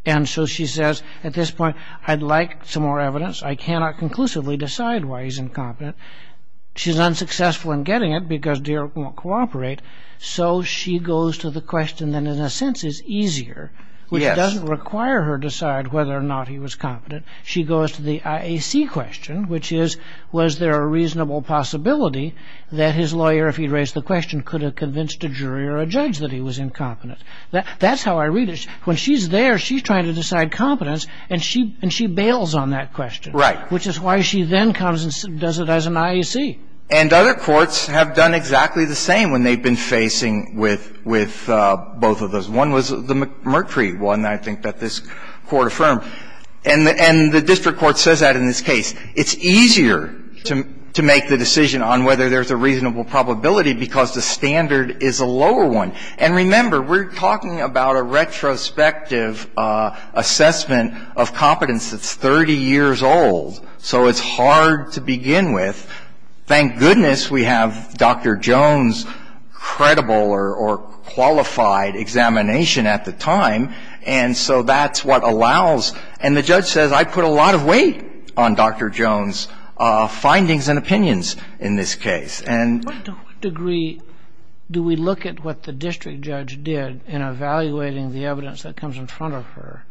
And so she says at this point, I'd like some more evidence. I cannot conclusively decide why he's incompetent. She's unsuccessful in getting it because Deere won't cooperate. So she goes to the question that in a sense is easier, which doesn't require her to decide whether or not he was competent. She goes to the IAC question, which is was there a reasonable possibility that his lawyer, if he raised the question, could have convinced a jury or a judge that he was incompetent. That's how I read it. When she's there, she's trying to decide competence. And she bails on that question. Right. Which is why she then comes and does it as an IAC. And other courts have done exactly the same when they've been facing with both of those. One was the McCree one, I think, that this Court affirmed. And the district court says that in this case. It's easier to make the decision on whether there's a reasonable probability because the standard is a lower one. And remember, we're talking about a retrospective assessment of competence that's 30 years old. So it's hard to begin with. Thank goodness we have Dr. Jones' credible or qualified examination at the time. And so that's what allows. And the judge says, I put a lot of weight on Dr. Jones' findings and opinions in this case. And to what degree do we look at what the district judge did in evaluating the evidence that comes in front of her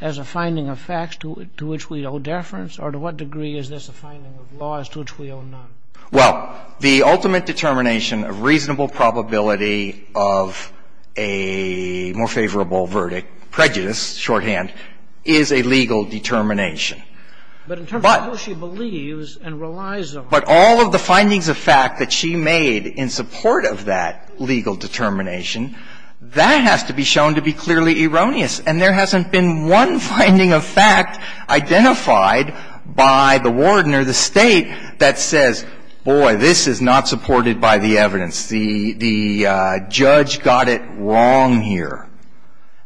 as a finding of facts to which we owe deference? Or to what degree is this a finding of laws to which we owe none? Well, the ultimate determination of reasonable probability of a more favorable verdict, prejudice, shorthand, is a legal determination. But in terms of who she believes and relies on. But all of the findings of fact that she made in support of that legal determination, that has to be shown to be clearly erroneous. And there hasn't been one finding of fact identified by the warden or the state that says, boy, this is not supported by the evidence. The judge got it wrong here.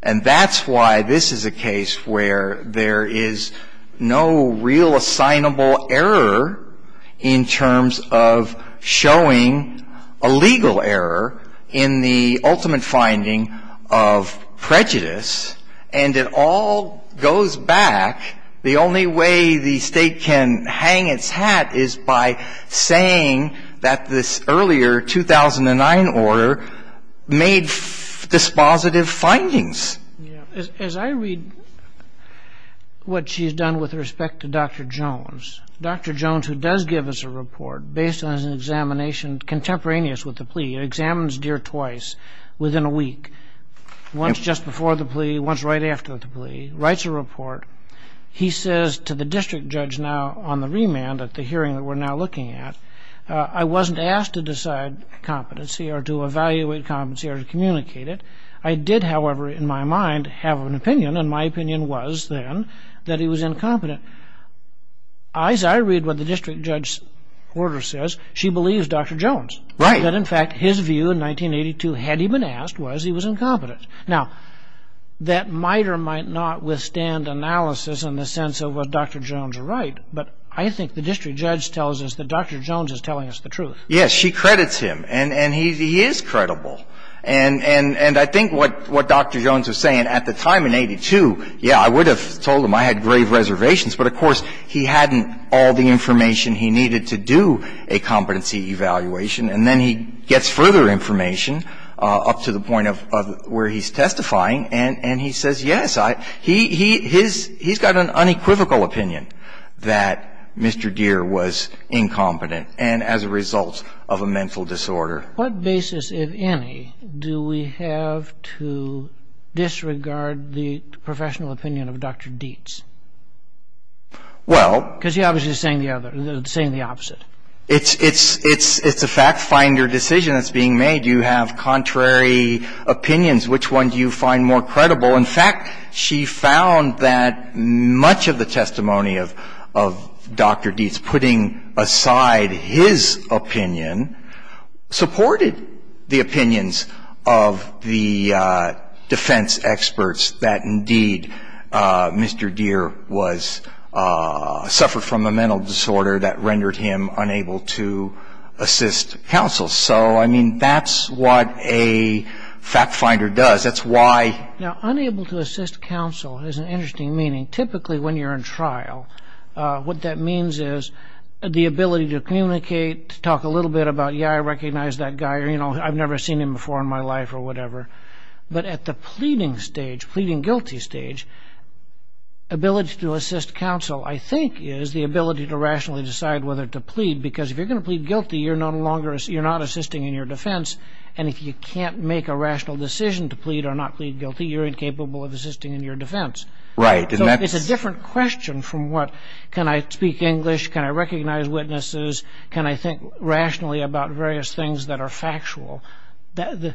And that's why this is a case where there is no real assignable error in terms of showing a legal error in the ultimate finding of prejudice. And it all goes back. The only way the state can hang its hat is by saying that this earlier 2009 order made dispositive findings. As I read what she's done with respect to Dr. Jones, Dr. Jones who does give us a report, based on his examination contemporaneous with the plea. He examines Deere twice within a week. Once just before the plea, once right after the plea. Writes a report. He says to the district judge now on the remand at the hearing that we're now looking at, I wasn't asked to decide competency or to evaluate competency or to communicate it. I did, however, in my mind, have an opinion. And my opinion was then that he was incompetent. As I read what the district judge's order says, she believes Dr. Jones. Right. That in fact his view in 1982 had he been asked was he was incompetent. Now, that might or might not withstand analysis in the sense of was Dr. Jones right? But I think the district judge tells us that Dr. Jones is telling us the truth. Yes, she credits him. And he is credible. And I think what Dr. Jones was saying at the time in 82, yeah, I would have told him I had rave reservations, but of course he hadn't all the information he needed to do a competency evaluation. And then he gets further information up to the point of where he's testifying. And he says, yes, he's got an unequivocal opinion that Mr. Deere was incompetent. And as a result of a mental disorder. What basis, if any, do we have to disregard the professional opinion of Dr. Dietz? Well. Because he's obviously saying the opposite. It's a fact finder decision that's being made. You have contrary opinions. Which one do you find more credible? In fact, she found that much of the testimony of Dr. Dietz putting aside his opinion supported the opinions of the defense experts that indeed Mr. Deere suffered from a mental disorder that rendered him unable to assist counsel. So, I mean, that's what a fact finder does. That's why. Now, unable to assist counsel has an interesting meaning. Typically when you're in trial, what that means is the ability to communicate, to talk a little bit about, yeah, I recognize that guy. You know, I've never seen him before in my life or whatever. But at the pleading stage, pleading guilty stage, ability to assist counsel I think is the ability to rationally decide whether to plead. Because if you're going to plead guilty, you're not assisting in your defense. And if you can't make a rational decision to plead or not plead guilty, you're incapable of assisting in your defense. Right. So it's a different question from what, can I speak English? Can I recognize witnesses? Can I think rationally about various things that are factual? The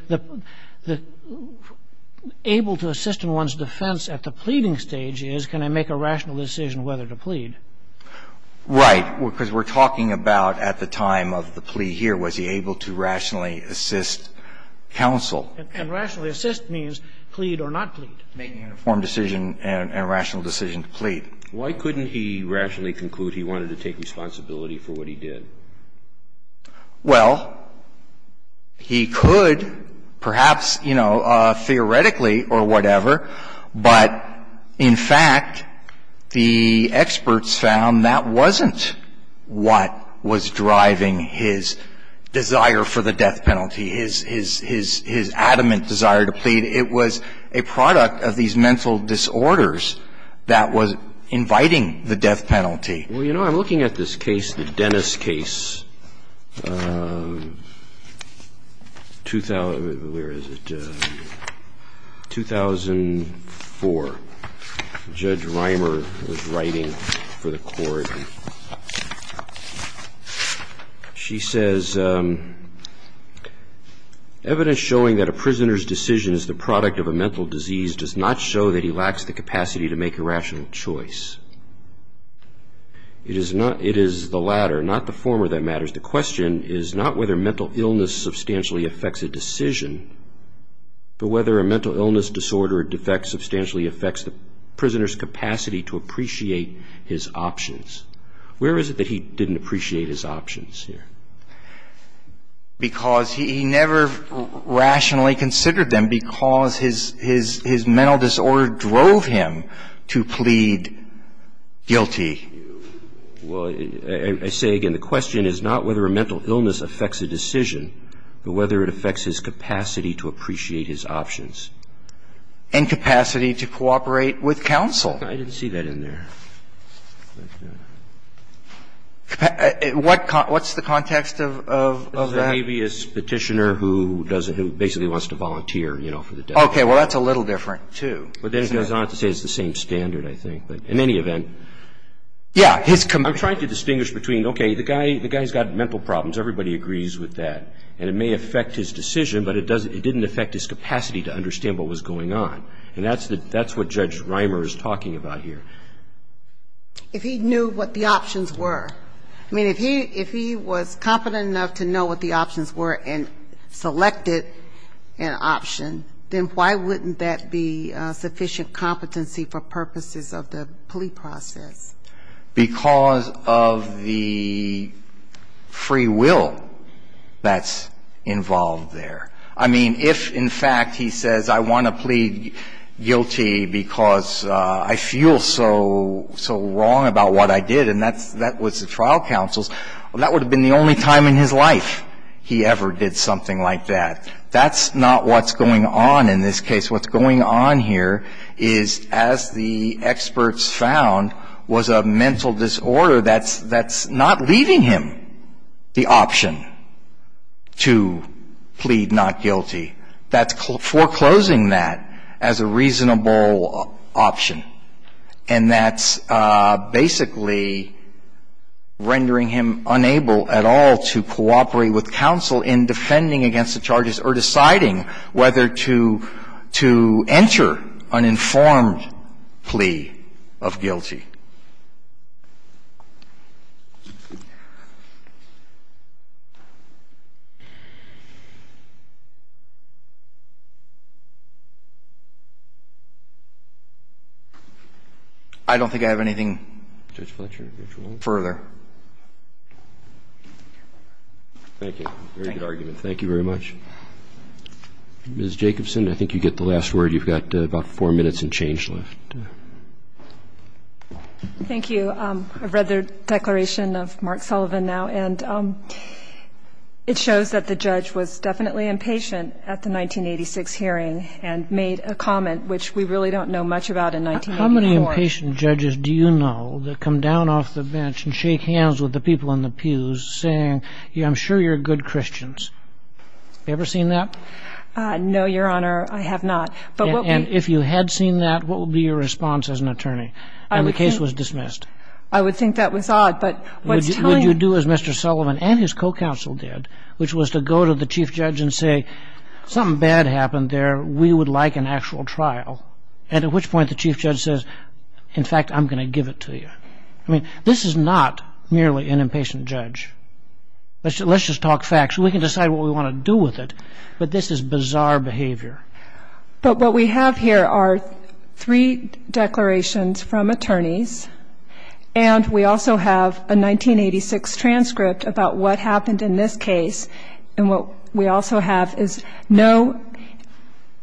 able to assist in one's defense at the pleading stage is can I make a rational decision whether to plead? Right. Because we're talking about at the time of the plea here, was he able to rationally assist counsel? And rationally assist means plead or not plead. Making an informed decision and a rational decision to plead. Why couldn't he rationally conclude he wanted to take responsibility for what he did? Well, he could perhaps, you know, theoretically or whatever, but in fact, the experts found that wasn't what was driving his desire for the death penalty, his, his, his adamant desire to plead. It was a product of these mental disorders that was inviting the death penalty. Well, you know, I'm looking at this case, the Dennis case, 2000, where is it? 2004. Judge Reimer was writing for the court. She says, evidence showing that a prisoner's decision is the product of a mental disease does not show that he lacks the capacity to make a rational choice. It is not, it is the latter, not the former that matters. The question is not whether mental illness substantially affects a decision, but whether a mental illness, disorder, or defect substantially affects the prisoner's options. Where is it that he didn't appreciate his options here? Because he never rationally considered them because his, his mental disorder drove him to plead guilty. Well, I say again, the question is not whether a mental illness affects a decision, but whether it affects his capacity to appreciate his options. And capacity to cooperate with counsel. I didn't see that in there. What, what's the context of, of that? The habeas petitioner who does, who basically wants to volunteer, you know, for the death penalty. Okay. Well, that's a little different, too. But then it goes on to say it's the same standard, I think. But in any event. Yeah. His commitment. I'm trying to distinguish between, okay, the guy, the guy's got mental problems. Everybody agrees with that. And it may affect his decision, but it doesn't, it didn't affect his capacity to understand what was going on. And that's the, that's what Judge Reimer is talking about here. If he knew what the options were. I mean, if he, if he was competent enough to know what the options were and selected an option, then why wouldn't that be sufficient competency for purposes of the plea process? Because of the free will that's involved there. I mean, if in fact he says, I want to plead guilty because I feel so, so wrong about what I did, and that's, that was the trial counsel's, that would have been the only time in his life he ever did something like that. That's not what's going on in this case. What's going on here is, as the experts found, was a mental disorder that's, that's not leaving him the option to plead not guilty. That's foreclosing that as a reasonable option. And that's basically rendering him unable at all to cooperate with counsel in defending against the charges or deciding whether to, to enter an informed plea of guilty. I don't think I have anything further. Thank you. Very good argument. Thank you very much. Ms. Jacobson, I think you get the last word. You've got about four minutes and change left. Thank you. I've read the declaration of Mark Sullivan now, and it shows that the judge was definitely impatient at the 1986 hearing and made a comment which we really don't know much about in 1984. How many impatient judges do you know that come down off the bench and shake hands with the people in the pews saying, I'm sure you're good Christians? Have you ever seen that? No, Your Honor, I have not. And if you had seen that, what would be your response as an attorney? And the case was dismissed. I would think that was odd. Would you do as Mr. Sullivan and his co-counsel did, which was to go to the chief judge and say, something bad happened there, we would like an actual trial? And at which point the chief judge says, in fact, I'm going to give it to you. I mean, this is not merely an impatient judge. Let's just talk facts. We can decide what we want to do with it. But this is bizarre behavior. But what we have here are three declarations from attorneys. And we also have a 1986 transcript about what happened in this case. And what we also have is no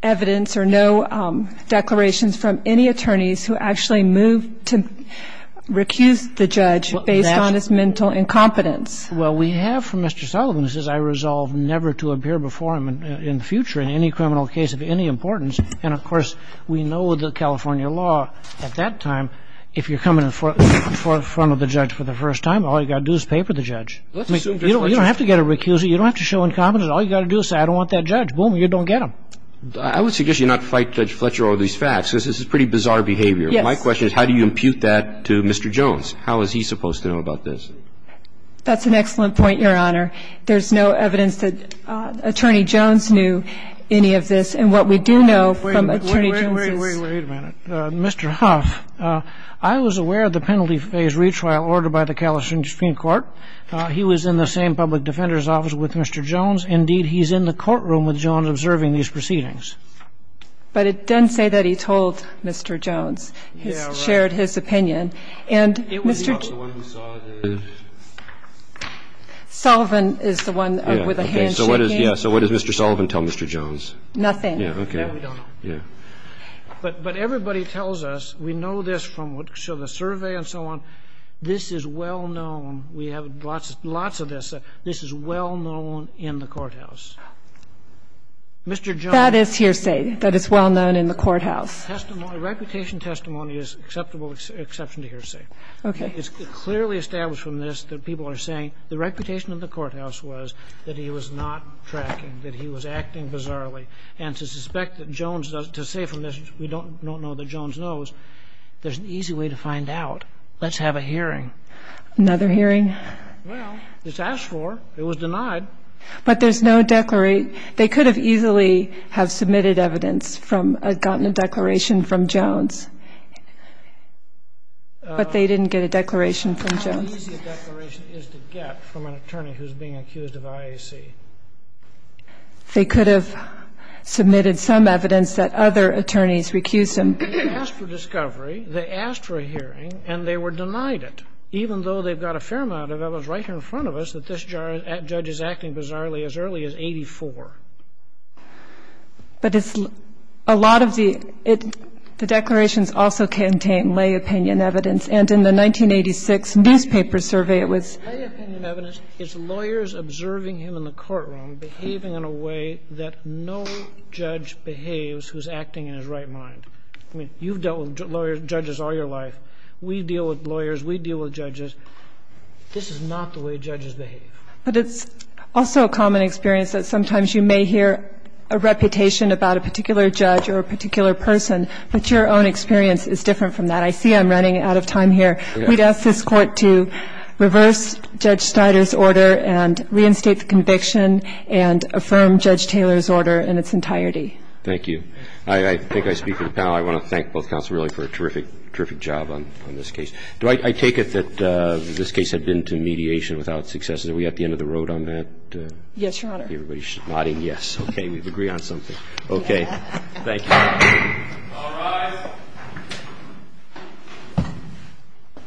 evidence or no declarations from any attorneys who actually moved to recuse the judge based on his mental incompetence. Well, we have from Mr. Sullivan, he says, I resolve never to appear before him in the future in any criminal case of any importance. And, of course, we know the California law at that time, if you're coming in front of the judge for the first time, all you've got to do is pay for the judge. I mean, you don't have to get a recuse. You don't have to show incompetence. All you've got to do is say, I don't want that judge. Boom, you don't get him. I would suggest you not fight Judge Fletcher over these facts. This is pretty bizarre behavior. Yes. My question is, how do you impute that to Mr. Jones? How is he supposed to know about this? That's an excellent point, Your Honor. There's no evidence that Attorney Jones knew any of this. And what we do know from Attorney Jones' ---- Wait, wait, wait, wait a minute. Mr. Huff, I was aware of the penalty phase retrial ordered by the California Supreme Court. He was in the same public defender's office with Mr. Jones. Indeed, he's in the courtroom with Jones observing these proceedings. But it doesn't say that he told Mr. Jones, shared his opinion. Yeah, right. And Mr. ---- Sullivan is the one with the handshaking. Yeah. So what does Mr. Sullivan tell Mr. Jones? Nothing. Yeah, okay. That we don't know. Yeah. But everybody tells us, we know this from the survey and so on. This is well known. We have lots of this. This is well known in the courthouse. Mr. Jones ---- That is hearsay. That is well known in the courthouse. Reputation testimony is an acceptable exception to hearsay. Okay. It's clearly established from this that people are saying the reputation of the courthouse was that he was not tracking, that he was acting bizarrely. And to suspect that Jones doesn't ---- to say from this, we don't know that Jones knows, there's an easy way to find out. Let's have a hearing. Another hearing? Well, it's asked for. It was denied. But there's no declaration. They could have easily have submitted evidence from a ---- gotten a declaration from Jones. But they didn't get a declaration from Jones. How easy a declaration is to get from an attorney who's being accused of IAC? They could have submitted some evidence that other attorneys recused them. They asked for discovery. They asked for a hearing. And they were denied it, even though they've got a fair amount of evidence right here in front of us that this judge is acting bizarrely as early as 84. But it's a lot of the ---- the declarations also contain lay opinion evidence. And in the 1986 newspaper survey, it was ---- Lay opinion evidence is lawyers observing him in the courtroom behaving in a way that no judge behaves who's acting in his right mind. I mean, you've dealt with lawyers, judges all your life. We deal with lawyers. We deal with judges. This is not the way judges behave. But it's also a common experience that sometimes you may hear a reputation about a particular judge or a particular person, but your own experience is different from that. I see I'm running out of time here. We'd ask this Court to reverse Judge Snyder's order and reinstate the conviction and affirm Judge Taylor's order in its entirety. Thank you. I think I speak for the panel. I want to thank both counsels really for a terrific, terrific job on this case. Do I take it that this case had been to mediation without success? Are we at the end of the road on that? Yes, Your Honor. Everybody nodding yes. Okay. We've agreed on something. Okay. Thank you. All rise.